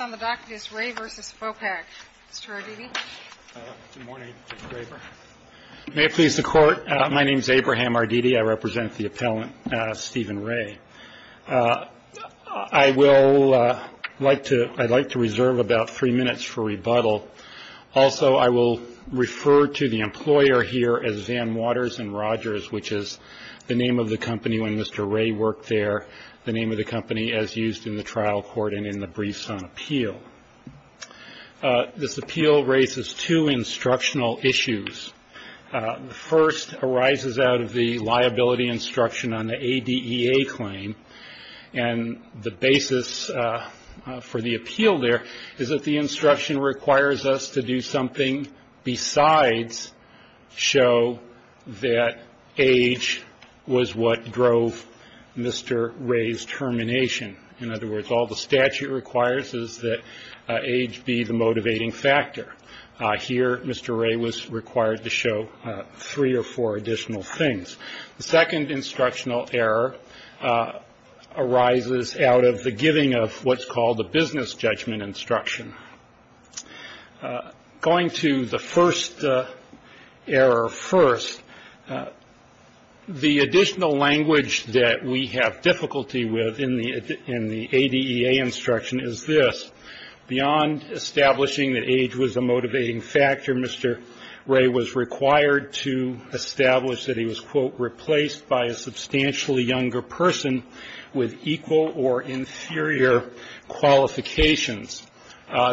May it please the Court, my name is Abraham Arditi. I represent the appellant, Stephen Ray. I will like to reserve about three minutes for rebuttal. Also, I will refer to the employer here as Van Waters and Rogers, which is the name of the company when Mr. Ray worked there, the name of the company as used in the trial court and in the briefs on appeal. This appeal raises two instructional issues. The first arises out of the liability instruction on the ADEA claim, and the basis for the appeal there is that the instruction requires us to do something besides show that age was what drove Mr. Ray's termination. In other words, all the statute requires is that age be the motivating factor. Here, Mr. Ray was required to show three or four additional things. The second instructional error arises out of the giving of what's called the business judgment instruction. Going to the first error first, the additional language that we have difficulty with in the ADEA instruction is this. Beyond establishing that age was a motivating factor, Mr. Ray was required to establish that he was, quote, replaced by a substantially younger person with equal or inferior qualifications.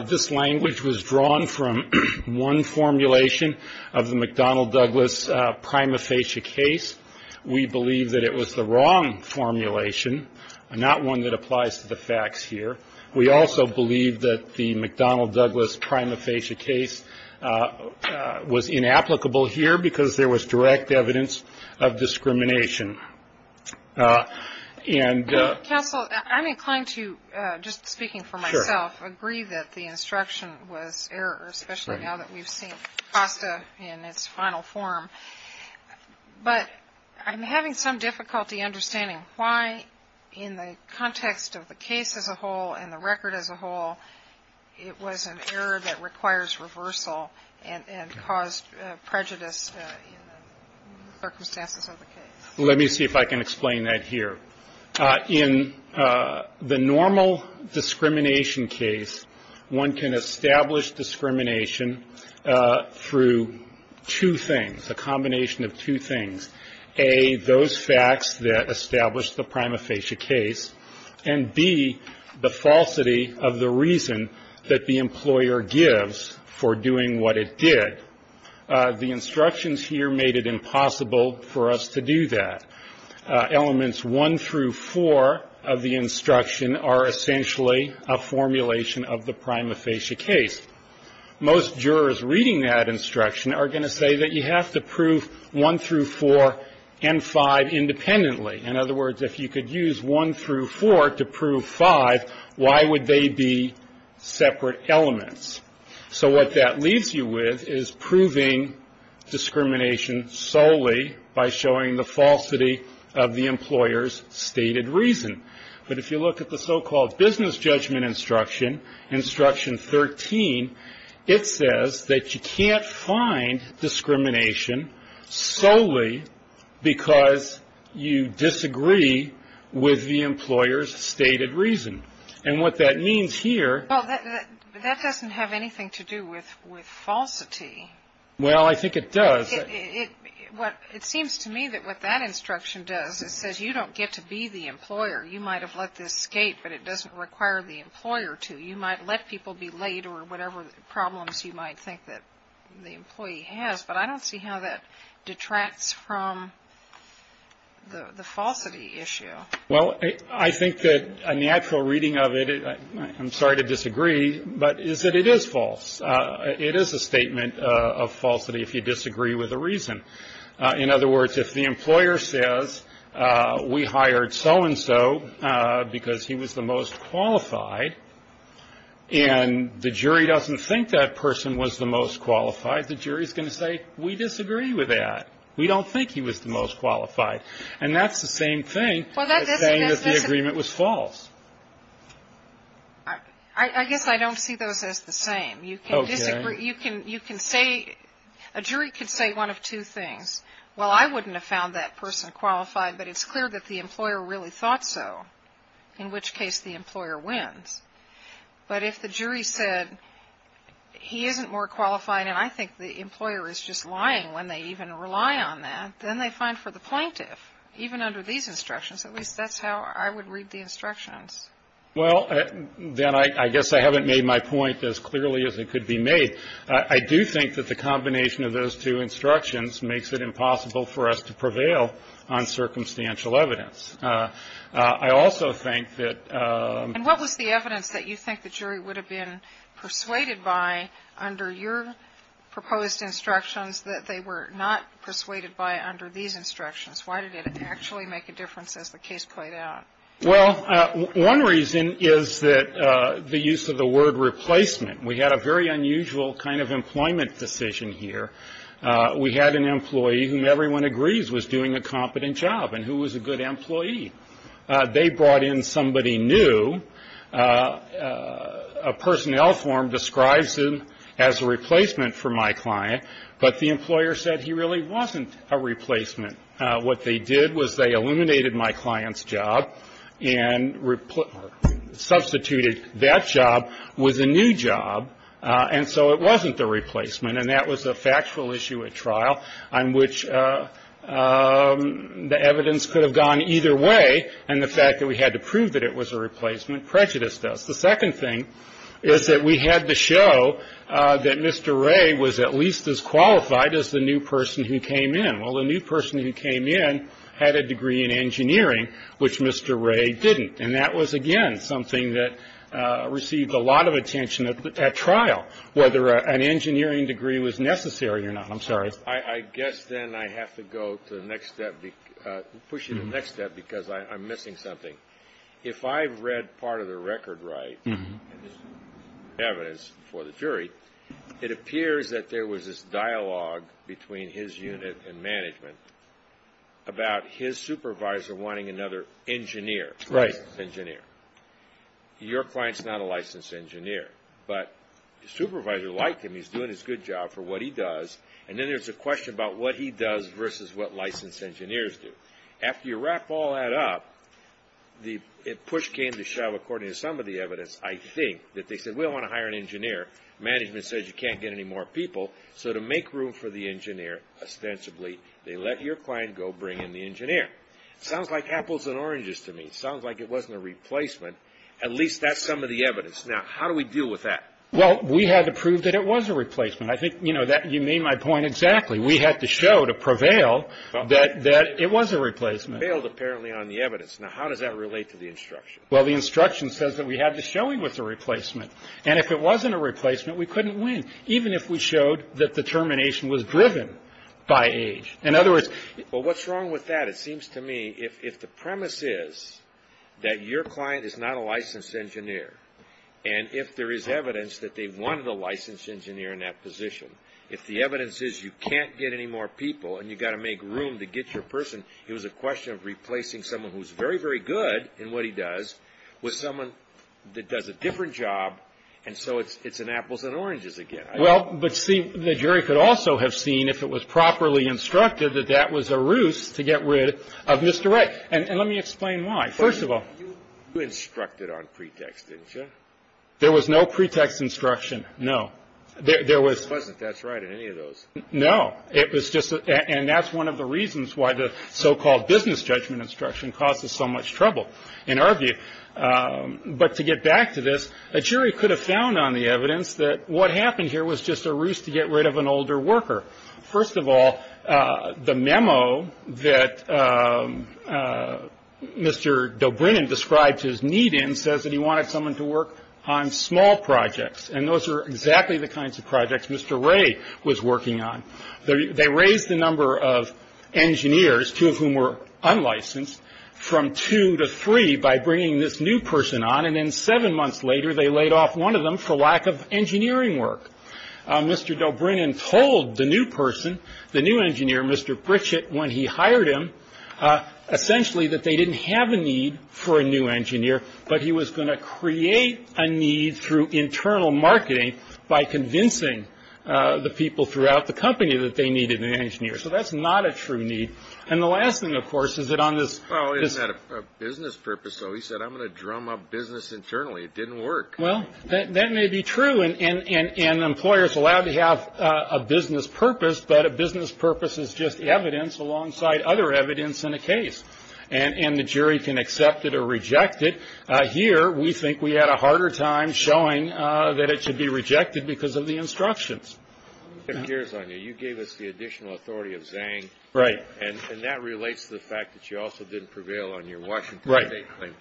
This language was drawn from one formulation of the McDonnell Douglas prima facie case. We believe that it was the wrong formulation, not one that applies to the facts here. We also believe that the McDonnell Douglas prima facie case was inapplicable here because there was direct evidence of discrimination. Counsel, I'm inclined to, just speaking for myself, agree that the instruction was error, especially now that we've seen FOSTA in its final form. But I'm having some difficulty understanding why in the context of the case as a whole and the record as a whole, it was an error that requires reversal and caused prejudice in the circumstances of the case. Let me see if I can explain that here. In the normal discrimination case, one can establish discrimination through two things, a combination of two things. A, those facts that established the prima facie case, and B, the falsity of the reason that the employer gives for doing what it did. The instructions here made it impossible for us to do that. Elements 1 through 4 of the instruction are essentially a formulation of the prima facie case. Most jurors reading that instruction are going to say that you have to prove 1 through 4 and 5 independently. In other words, if you could use 1 through 4 to prove 5, why would they be separate elements? So what that leaves you with is proving discrimination solely by showing the falsity of the employer's stated reason. But if you look at the so-called business judgment instruction, instruction 13, it says that you can't find discrimination solely because you disagree with the employer's stated reason. And what that means here... Well, that doesn't have anything to do with falsity. Well, I think it does. It seems to me that what that instruction does, it says you don't get to be the employer. You might have let this skate, but it doesn't require the employer to. You might let people be laid or whatever problems you might think that the employee has, but I don't see how that detracts from the falsity issue. Well, I think that a natural reading of it, I'm sorry to disagree, but is that it is false. It is a statement of falsity if you disagree with a reason. In other words, if the employer says we hired so-and-so because he was the most qualified and the jury doesn't think that person was the most qualified, the jury is going to say we disagree with that. We don't think he was the most qualified. And that's the same thing. It's saying that the agreement was false. I guess I don't see those as the same. You can disagree. You can say, a jury can say one of two things. Well, I wouldn't have found that person qualified, but it's clear that the employer really thought so, in which case the employer wins. But if the jury said he isn't more qualified and I think the employer is just lying when they even rely on that, then they find for the plaintiff, even under these instructions, at least that's how I would read the instructions. Well, then I guess I haven't made my point as clearly as it could be made. I do think that the combination of those two instructions makes it impossible for us to prevail on circumstantial evidence. I also think that ---- And what was the evidence that you think the jury would have been persuaded by under your proposed instructions that they were not persuaded by under these instructions? Why did it actually make a difference as the case played out? Well, one reason is that the use of the word replacement. We had a very unusual kind of employment decision here. We had an employee whom everyone agrees was doing a competent job. And who was a good employee? They brought in somebody new. A personnel form describes him as a replacement for my client. But the employer said he really wasn't a replacement. What they did was they eliminated my client's job and substituted that job with a new job. And so it wasn't the replacement. And that was a factual issue at trial on which the evidence could have gone either way. And the fact that we had to prove that it was a replacement prejudiced us. The second thing is that we had to show that Mr. Ray was at least as qualified as the new person who came in. Well, the new person who came in had a degree in engineering, which Mr. Ray didn't. And that was, again, something that received a lot of attention at trial, whether an engineering degree was necessary or not. I'm sorry. I guess then I have to go to the next step because I'm missing something. If I've read part of the record right, evidence for the jury, it appears that there was this dialogue between his unit and management about his supervisor wanting another engineer. Right. Your client's not a licensed engineer. But the supervisor liked him. He's doing his good job for what he does. And then there's a question about what he does versus what licensed engineers do. After you wrap all that up, the push came to shove, according to some of the evidence, I think, that they said, we don't want to hire an engineer. Management says you can't get any more people. So to make room for the engineer, ostensibly, they let your client go bring in the engineer. Sounds like apples and oranges to me. Sounds like it wasn't a replacement. At least that's some of the evidence. Now, how do we deal with that? Well, we had to prove that it was a replacement. I think, you know, you made my point exactly. We had to show to prevail that it was a replacement. Prevailed, apparently, on the evidence. Now, how does that relate to the instruction? Well, the instruction says that we had to show him it was a replacement. And if it wasn't a replacement, we couldn't win, even if we showed that the termination was driven by age. In other words, Well, what's wrong with that? It seems to me if the premise is that your client is not a licensed engineer, and if there is evidence that they wanted a licensed engineer in that position, if the evidence is you can't get any more people and you've got to make room to get your person, it was a question of replacing someone who's very, very good in what he does with someone that does a different job, and so it's an apples and oranges again. Well, but see, the jury could also have seen, if it was properly instructed, that that was a ruse to get rid of Mr. Wright. And let me explain why. First of all, You instructed on pretext, didn't you? There was no pretext instruction, no. There was. There wasn't, that's right, in any of those. No. It was just, and that's one of the reasons why the so-called business judgment instruction causes so much trouble, in our view. But to get back to this, a jury could have found on the evidence that what happened here was just a ruse to get rid of an older worker. First of all, the memo that Mr. Dobrynin described his need in says that he wanted someone to work on small projects, and those are exactly the kinds of projects Mr. Wray was working on. They raised the number of engineers, two of whom were unlicensed, from two to three by bringing this new person on, and then seven months later they laid off one of them for lack of engineering work. Mr. Dobrynin told the new person, the new engineer, Mr. Pritchett, when he hired him, essentially that they didn't have a need for a new engineer, but he was going to create a need through internal marketing by convincing the people throughout the company that they needed an engineer. So that's not a true need. And the last thing, of course, is that on this business purpose. So he said, I'm going to drum up business internally. It didn't work. Well, that may be true, and employers are allowed to have a business purpose, but a business purpose is just evidence alongside other evidence in a case. And the jury can accept it or reject it. Here we think we had a harder time showing that it should be rejected because of the instructions. You gave us the additional authority of Zang. Right. And that relates to the fact that you also didn't prevail on your Washington State claim.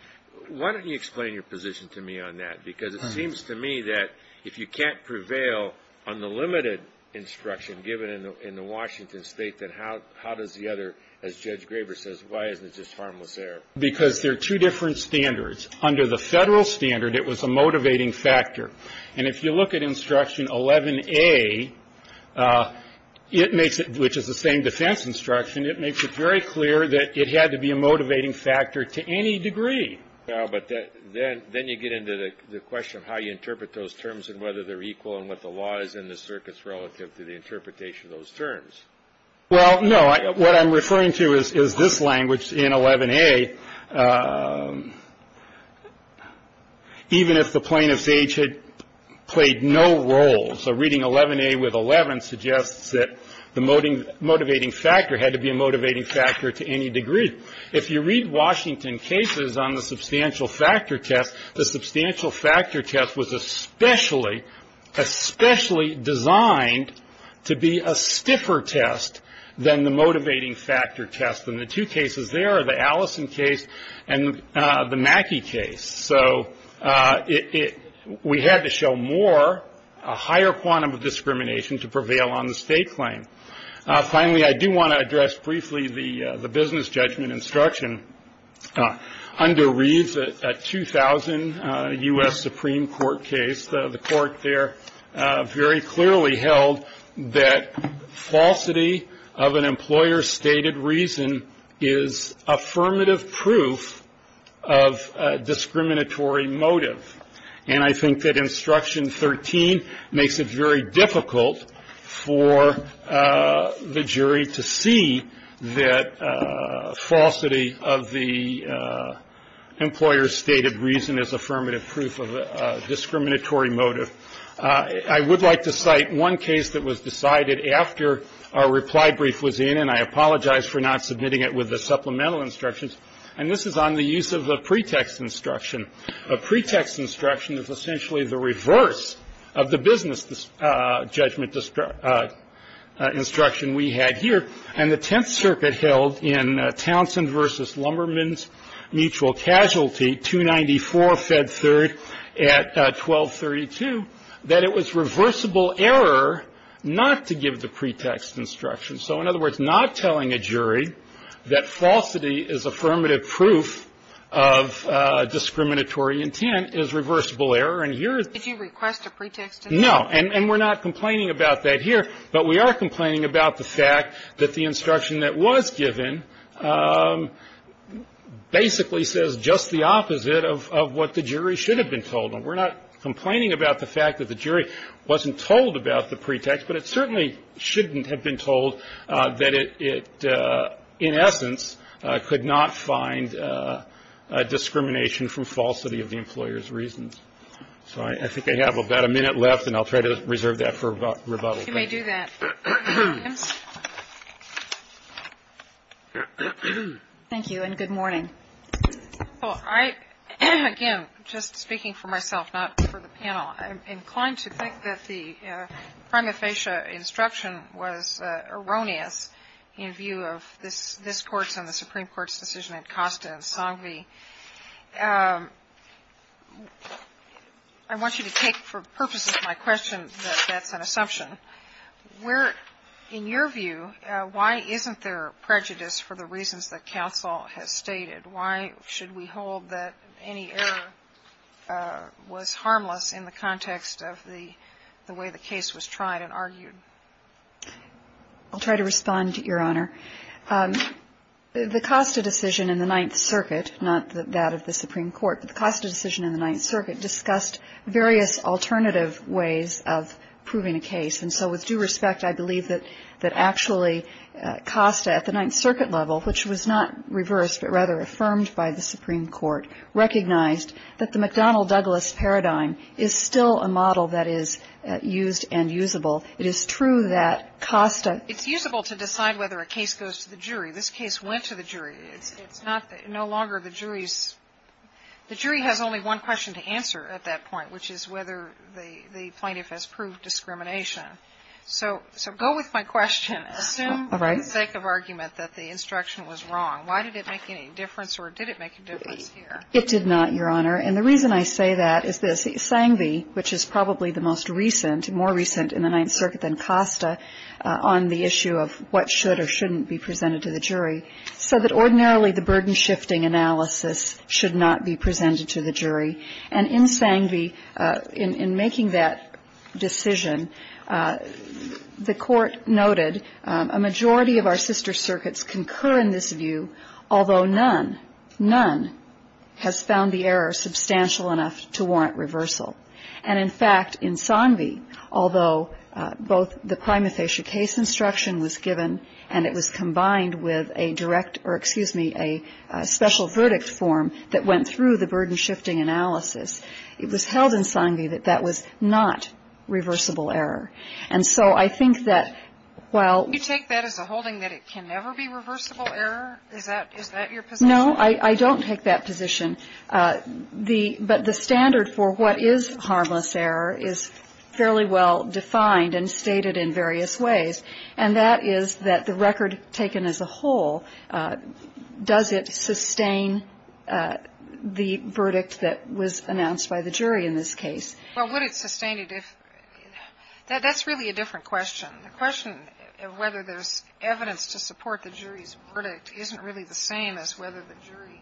Why don't you explain your position to me on that? Because it seems to me that if you can't prevail on the limited instruction given in the Washington State, then how does the other, as Judge Graber says, why isn't it just harmless error? Because there are two different standards. Under the federal standard, it was a motivating factor. And if you look at instruction 11A, which is the same defense instruction, it makes it very clear that it had to be a motivating factor to any degree. But then you get into the question of how you interpret those terms and whether they're equal and what the law is in the circuits relative to the interpretation of those terms. Well, no. What I'm referring to is this language in 11A, even if the plaintiff's age had played no role. So reading 11A with 11 suggests that the motivating factor had to be a motivating factor to any degree. If you read Washington cases on the substantial factor test, the substantial factor test was especially designed to be a stiffer test than the motivating factor test. And the two cases there are the Allison case and the Mackey case. So we had to show more, a higher quantum of discrimination to prevail on the state claim. Finally, I do want to address briefly the business judgment instruction. Under Reeves, a 2000 U.S. Supreme Court case, the court there very clearly held that falsity of an employer's stated reason is affirmative proof of discriminatory motive. And I think that instruction 13 makes it very difficult for the jury to see that falsity of the employer's stated reason is affirmative proof of discriminatory motive. I would like to cite one case that was decided after our reply brief was in, and I apologize for not submitting it with the supplemental instructions. And this is on the use of a pretext instruction. A pretext instruction is essentially the reverse of the business judgment instruction we had here. And the Tenth Circuit held in Townsend v. Lumberman's mutual casualty, 294 Fed Third at 1232, that it was reversible error not to give the pretext instruction. So in other words, not telling a jury that falsity is affirmative proof of discriminatory intent is reversible error. And here is the question. No. And we're not complaining about that here. But we are complaining about the fact that the instruction that was given basically says just the opposite of what the jury should have been told. And we're not complaining about the fact that the jury wasn't told about the pretext, but it certainly shouldn't have been told that it in essence could not find discrimination from falsity of the employer's reasons. So I think I have about a minute left, and I'll try to reserve that for rebuttal. You may do that, Mr. Williams. Thank you, and good morning. Well, I, again, just speaking for myself, not for the panel, I'm inclined to think that the prima facie instruction was erroneous in view of this Court's and the Supreme Court's decision at Costa and Songvy. I want you to take for purposes of my question that that's an assumption. Where, in your view, why isn't there prejudice for the reasons that counsel has stated? Why should we hold that any error was harmless in the context of the way the case was tried and argued? I'll try to respond, Your Honor. The Costa decision in the Ninth Circuit, not that of the Supreme Court, but the Costa decision in the Ninth Circuit discussed various alternative ways of proving a case. And so with due respect, I believe that actually Costa at the Ninth Circuit level, which was not reversed but rather affirmed by the Supreme Court, recognized that the McDonnell-Douglas paradigm is still a model that is used and usable. It is true that Costa ---- It's usable to decide whether a case goes to the jury. This case went to the jury. It's not that no longer the jury's ---- the jury has only one question to answer at that point, which is whether the plaintiff has proved discrimination. So go with my question. All right. Assume for the sake of argument that the instruction was wrong. Why did it make any difference or did it make a difference here? It did not, Your Honor. And the reason I say that is this. Sangvi, which is probably the most recent, more recent in the Ninth Circuit than Costa, on the issue of what should or shouldn't be presented to the jury, said that ordinarily the burden-shifting analysis should not be presented to the jury. And in Sangvi, in making that decision, the Court noted a majority of our sister circuits concur in this view, although none, none has found the error substantial enough to warrant reversal. And, in fact, in Sangvi, although both the prima facie case instruction was given and it was combined with a direct or, excuse me, a special verdict form that went through the burden-shifting analysis, it was held in Sangvi that that was not reversible error. And so I think that while ---- Kagan, is that your position? No, I don't take that position. The ---- but the standard for what is harmless error is fairly well defined and stated in various ways, and that is that the record taken as a whole, does it sustain the verdict that was announced by the jury in this case? Well, would it sustain it if ---- that's really a different question. The question of whether there's evidence to support the jury's verdict isn't really the same as whether the jury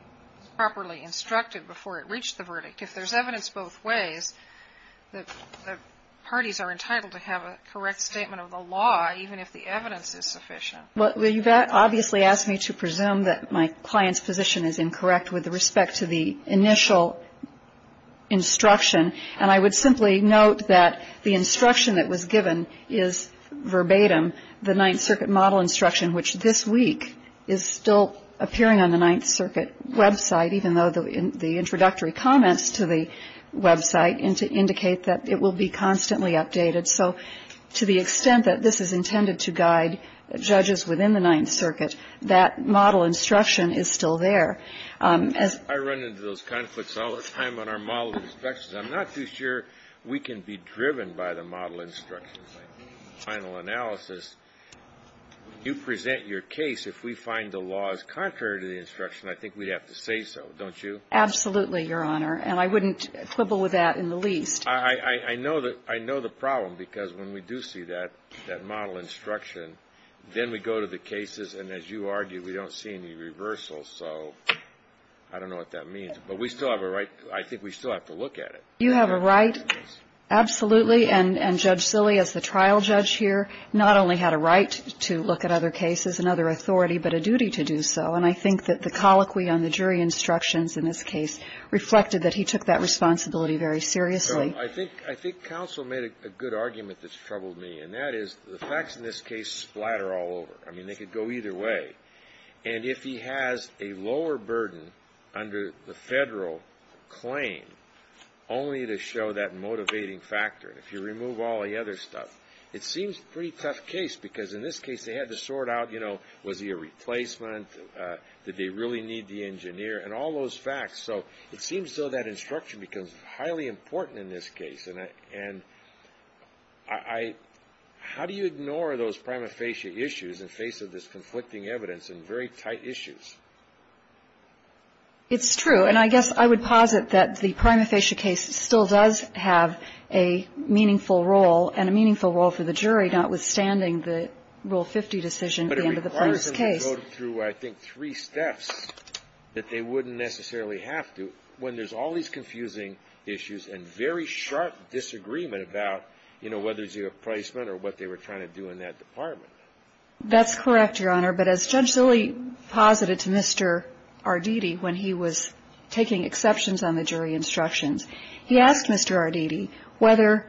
properly instructed before it reached the verdict. If there's evidence both ways, the parties are entitled to have a correct statement of the law, even if the evidence is sufficient. Well, you've obviously asked me to presume that my client's position is incorrect with respect to the initial instruction, and I would simply note that the instruction that was given is verbatim the Ninth Circuit model instruction, which this week is still appearing on the Ninth Circuit website, even though the introductory comments to the website indicate that it will be constantly updated. So to the extent that this is intended to guide judges within the Ninth Circuit, that model instruction is still there. I run into those conflicts all the time on our model instructions. I'm not too sure we can be driven by the model instructions. My final analysis, you present your case. If we find the law is contrary to the instruction, I think we'd have to say so, don't you? Absolutely, Your Honor. And I wouldn't quibble with that in the least. I know the problem, because when we do see that, that model instruction, then we go to the cases, and as you argued, we don't see any reversal. So I don't know what that means. But we still have a right. I think we still have to look at it. You have a right, absolutely. And Judge Zille, as the trial judge here, not only had a right to look at other cases and other authority, but a duty to do so. And I think that the colloquy on the jury instructions in this case reflected that he took that responsibility very seriously. So I think counsel made a good argument that's troubled me, and that is the facts in this case splatter all over. I mean, they could go either way. And if he has a lower burden under the federal claim, only to show that motivating factor, if you remove all the other stuff, it seems a pretty tough case, because in this case they had to sort out, you know, was he a replacement? Did they really need the engineer? And all those facts. So it seems, though, that instruction becomes highly important in this case. And I – how do you ignore those prima facie issues in face of this conflicting evidence and very tight issues? It's true. And I guess I would posit that the prima facie case still does have a meaningful role and a meaningful role for the jury, notwithstanding the Rule 50 decision at the end of the first case. But it requires them to go through, I think, three steps that they wouldn't necessarily have to when there's all these confusing issues and very sharp disagreement about, you know, whether he's a replacement or what they were trying to do in that department. That's correct, Your Honor. But as Judge Zille posited to Mr. Arditi when he was taking exceptions on the jury instructions, he asked Mr. Arditi whether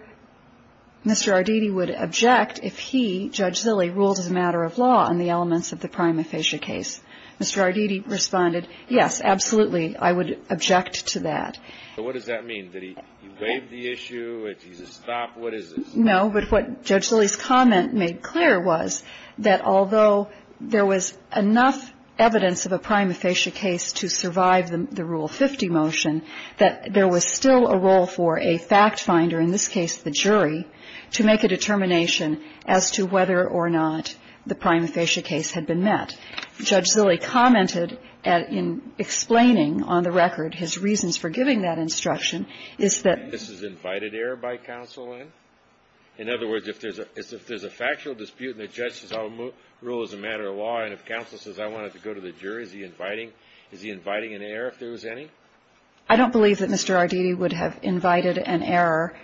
Mr. Arditi would object if he, Judge Zille, ruled as a matter of law on the elements of the prima facie case. Mr. Arditi responded, yes, absolutely, I would object to that. So what does that mean? Did he waive the issue? Did he just stop? What is this? No, but what Judge Zille's comment made clear was that although there was enough evidence of a prima facie case to survive the Rule 50 motion, that there was still a role for a fact finder, in this case the jury, to make a determination as to whether or not the prima facie case had been met. What Judge Zille commented in explaining on the record his reasons for giving that instruction is that this is invited error by counsel. In other words, if there's a factual dispute and the judge says I'll rule as a matter of law, and if counsel says I want it to go to the jury, is he inviting an error if there was any? I don't believe that Mr. Arditi would have invited an error.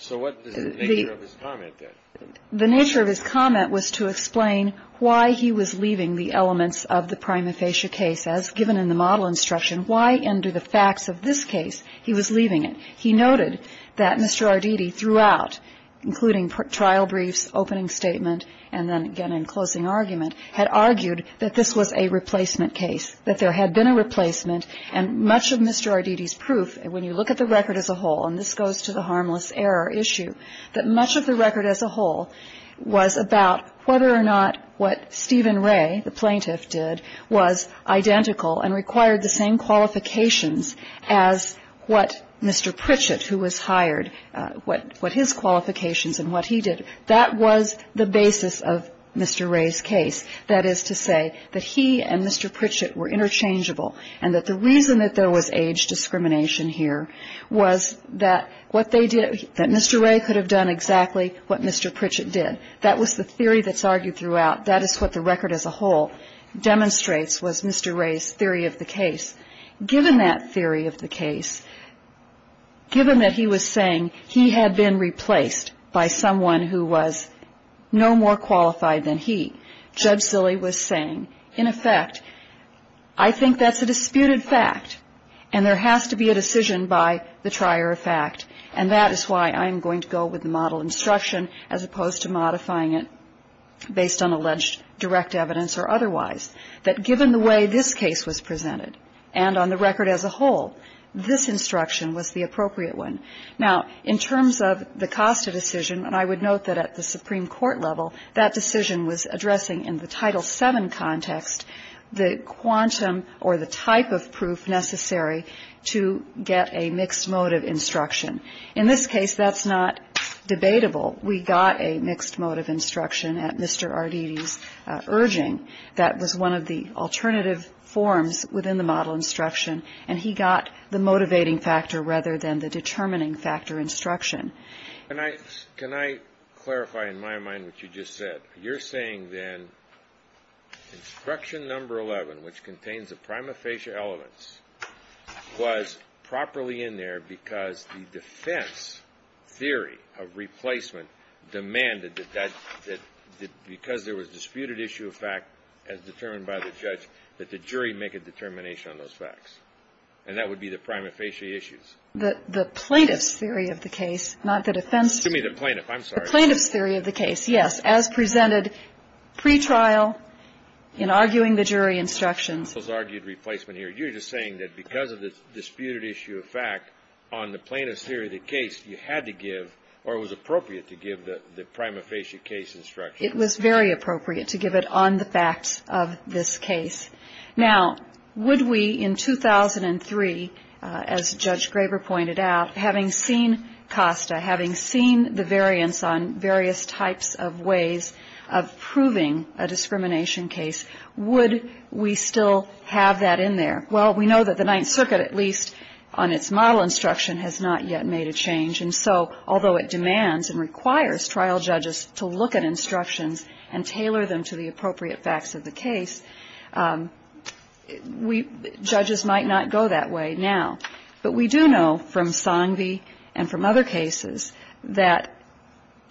So what is the nature of his comment then? The nature of his comment was to explain why he was leaving the elements of the prima facie case. As given in the model instruction, why under the facts of this case he was leaving it? He noted that Mr. Arditi throughout, including trial briefs, opening statement, and then again in closing argument, had argued that this was a replacement case, that there had been a replacement. And much of Mr. Arditi's proof, when you look at the record as a whole, and this was about whether or not what Stephen Ray, the plaintiff, did was identical and required the same qualifications as what Mr. Pritchett, who was hired, what his qualifications and what he did. That was the basis of Mr. Ray's case. That is to say that he and Mr. Pritchett were interchangeable and that the reason that there was age discrimination here was that what they did, that Mr. Ray could have done exactly what Mr. Pritchett did. That was the theory that's argued throughout. That is what the record as a whole demonstrates was Mr. Ray's theory of the case. Given that theory of the case, given that he was saying he had been replaced by someone who was no more qualified than he, Judge Zille was saying, in effect, I think that's a disputed fact and there has to be a decision by the trier of fact, and that is why I'm going to go with the model instruction as opposed to modifying it based on alleged direct evidence or otherwise, that given the way this case was presented and on the record as a whole, this instruction was the appropriate one. Now, in terms of the Costa decision, and I would note that at the Supreme Court level, that decision was addressing in the Title VII context the quantum or the type of proof necessary to get a mixed motive instruction. In this case, that's not debatable. We got a mixed motive instruction at Mr. Arditi's urging. That was one of the alternative forms within the model instruction, and he got the motivating factor rather than the determining factor instruction. Can I clarify in my mind what you just said? You're saying then instruction number 11, which contains the prima facie elements, was properly in there because the defense theory of replacement demanded that because there was a disputed issue of fact as determined by the judge, that the jury make a determination on those facts, and that would be the prima facie issues? The plaintiff's theory of the case, not the defense theory. Excuse me, the plaintiff. I'm sorry. The plaintiff's theory of the case, yes, as presented pretrial in arguing the jury instructions. Counsel's argued replacement here. You're just saying that because of the disputed issue of fact on the plaintiff's theory of the case, you had to give or it was appropriate to give the prima facie case instruction. It was very appropriate to give it on the facts of this case. Now, would we in 2003, as Judge Graber pointed out, having seen COSTA, having seen the variance on various types of ways of proving a discrimination case, would we still have that in there? Well, we know that the Ninth Circuit, at least on its model instruction, has not yet made a change. And so although it demands and requires trial judges to look at instructions and tailor them to the appropriate facts of the case, judges might not go that way now. But we do know from Song v. and from other cases that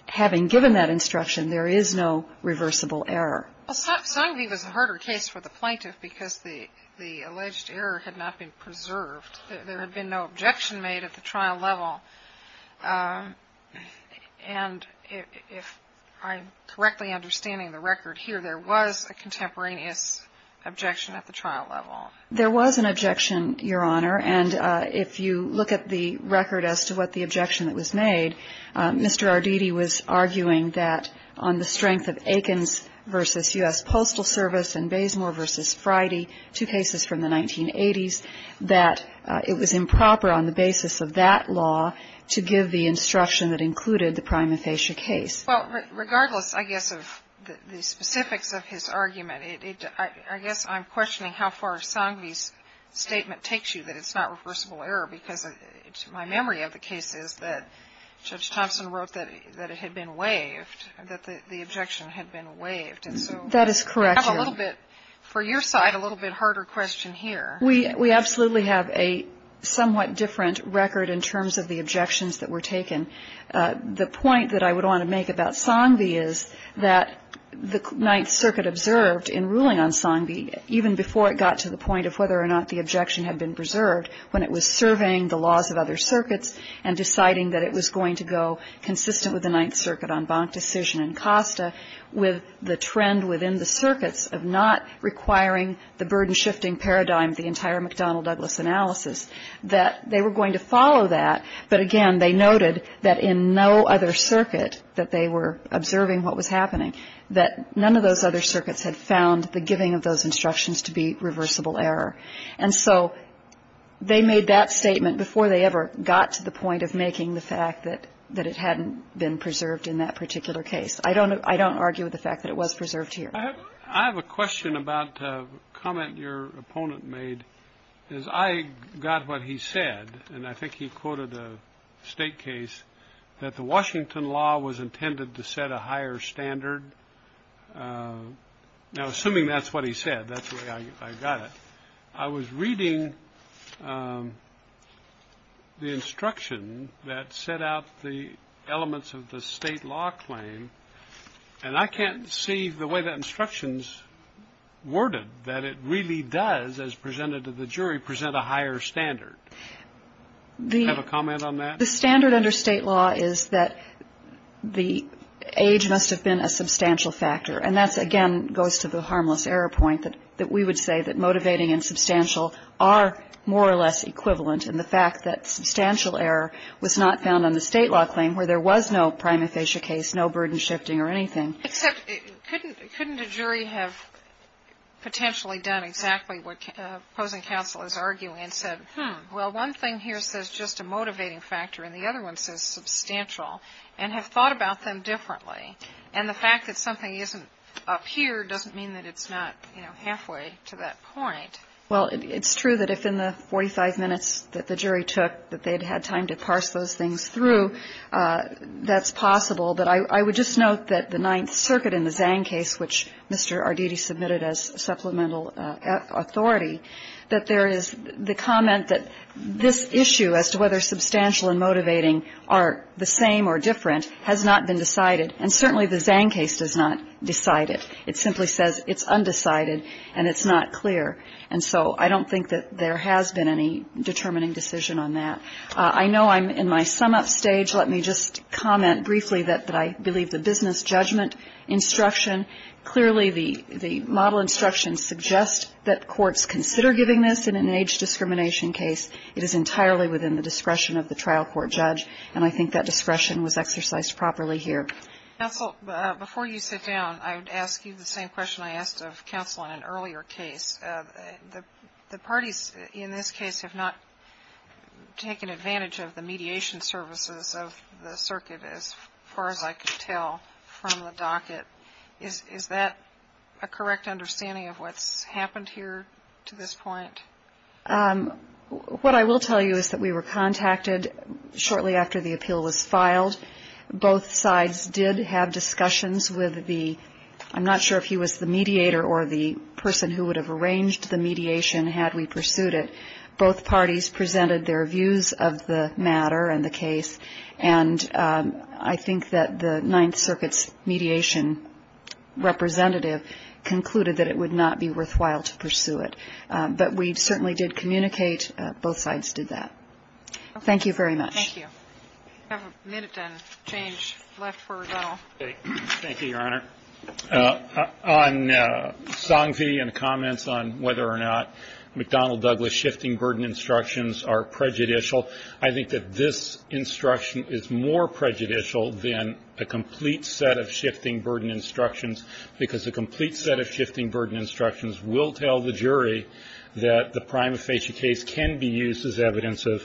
having given that instruction, there is no reversible error. Well, Song v. was a harder case for the plaintiff because the alleged error had not been preserved. There had been no objection made at the trial level. And if I'm correctly understanding the record here, there was a contemporaneous objection at the trial level. There was an objection, Your Honor. And if you look at the record as to what the objection that was made, Mr. Arditi was arguing that on the strength of Aikens v. U.S. Postal Service and Bazemore v. Friday, two cases from the 1980s, that it was improper on the basis of that law to give the instruction that included the prime infatia case. Well, regardless, I guess, of the specifics of his argument, I guess I'm questioning how far Song v.'s statement takes you, that it's not reversible error, because my memory of the case is that Judge Thompson wrote that it had been waived, that the objection had been waived. That is correct, Your Honor. And so we have a little bit, for your side, a little bit harder question here. We absolutely have a somewhat different record in terms of the objections that were taken. The point that I would want to make about Song v. is that the Ninth Circuit observed in ruling on Song v., even before it got to the point of whether or not the objection had been preserved, when it was surveying the laws of other circuits and deciding that it was going to go consistent with the Ninth Circuit en banc decision in Costa, with the trend within the circuits of not requiring the burden-shifting paradigm of the entire McDonnell-Douglas analysis, that they were going to follow that. But again, they noted that in no other circuit that they were observing what was happening, that none of those other circuits had found the giving of those instructions to be reversible error. And so they made that statement before they ever got to the point of making the fact that it hadn't been preserved in that particular case. I don't argue with the fact that it was preserved here. I have a question about a comment your opponent made, is I got what he said, and I think he quoted a State case, that the Washington law was intended to set a higher standard. Now, assuming that's what he said, that's the way I got it. I was reading the instruction that set out the elements of the State law claim, and I can't see the way that instruction's worded that it really does, as presented to the jury, present a higher standard. Do you have a comment on that? The standard under State law is that the age must have been a substantial factor. And that, again, goes to the harmless error point, that we would say that motivating and substantial are more or less equivalent in the fact that substantial error was not found on the State law claim where there was no prima facie case, no burden shifting or anything. Except couldn't a jury have potentially done exactly what opposing counsel is arguing and said, hmm, well, one thing here says just a motivating factor, and the other one says substantial, and have thought about them differently. And the fact that something isn't up here doesn't mean that it's not, you know, halfway to that point. Well, it's true that if in the 45 minutes that the jury took that they'd had time to parse those things through, that's possible. But I would just note that the Ninth Circuit in the Zhang case, which Mr. Arditi submitted as supplemental authority, that there is the comment that this issue as to whether substantial and motivating are the same or different has not been decided. And certainly the Zhang case does not decide it. It simply says it's undecided and it's not clear. And so I don't think that there has been any determining decision on that. I know I'm in my sum-up stage. Let me just comment briefly that I believe the business judgment instruction clearly the model instruction suggests that courts consider giving this in an age discrimination case, it is entirely within the discretion of the trial court judge. And I think that discretion was exercised properly here. Counsel, before you sit down, I would ask you the same question I asked of counsel in an earlier case. The parties in this case have not taken advantage of the mediation services of the circuit as far as I could tell from the docket. Is that a correct understanding of what's happened here to this point? What I will tell you is that we were contacted shortly after the appeal was filed. Both sides did have discussions with the ‑‑ I'm not sure if he was the mediator or the person who would have arranged the mediation had we pursued it. Both parties presented their views of the matter and the case. And I think that the Ninth Circuit's mediation representative concluded that it would not be worthwhile to pursue it. But we certainly did communicate. Both sides did that. Thank you very much. Thank you. We have a minute and change left for Donald. Thank you, Your Honor. On Songvi and comments on whether or not McDonnell Douglas shifting burden instructions are prejudicial, I think that this instruction is more prejudicial than a complete set of shifting burden instructions because a complete set of shifting burden instructions will tell the jury that the prima facie case can be used as evidence of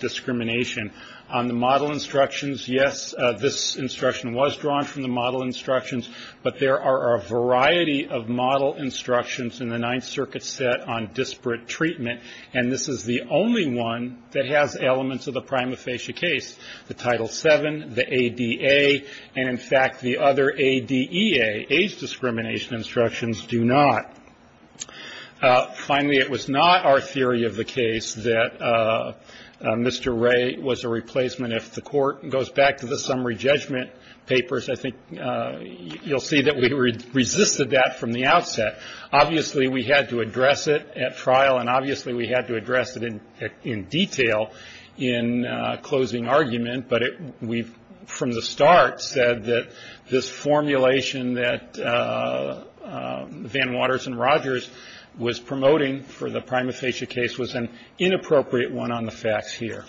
discrimination. On the model instructions, yes, this instruction was drawn from the model instructions. But there are a variety of model instructions in the Ninth Circuit set on disparate treatment. And this is the only one that has elements of the prima facie case, the Title VII, the ADA, and, in fact, the other ADEA, age discrimination instructions, do not. Finally, it was not our theory of the case that Mr. Ray was a replacement. If the Court goes back to the summary judgment papers, I think you'll see that we resisted that from the outset. Obviously, we had to address it at trial. And obviously, we had to address it in detail in closing argument. But we, from the start, said that this formulation that Van Waters and Rogers was promoting for the prima facie case was an inappropriate one on the facts here. Thank you.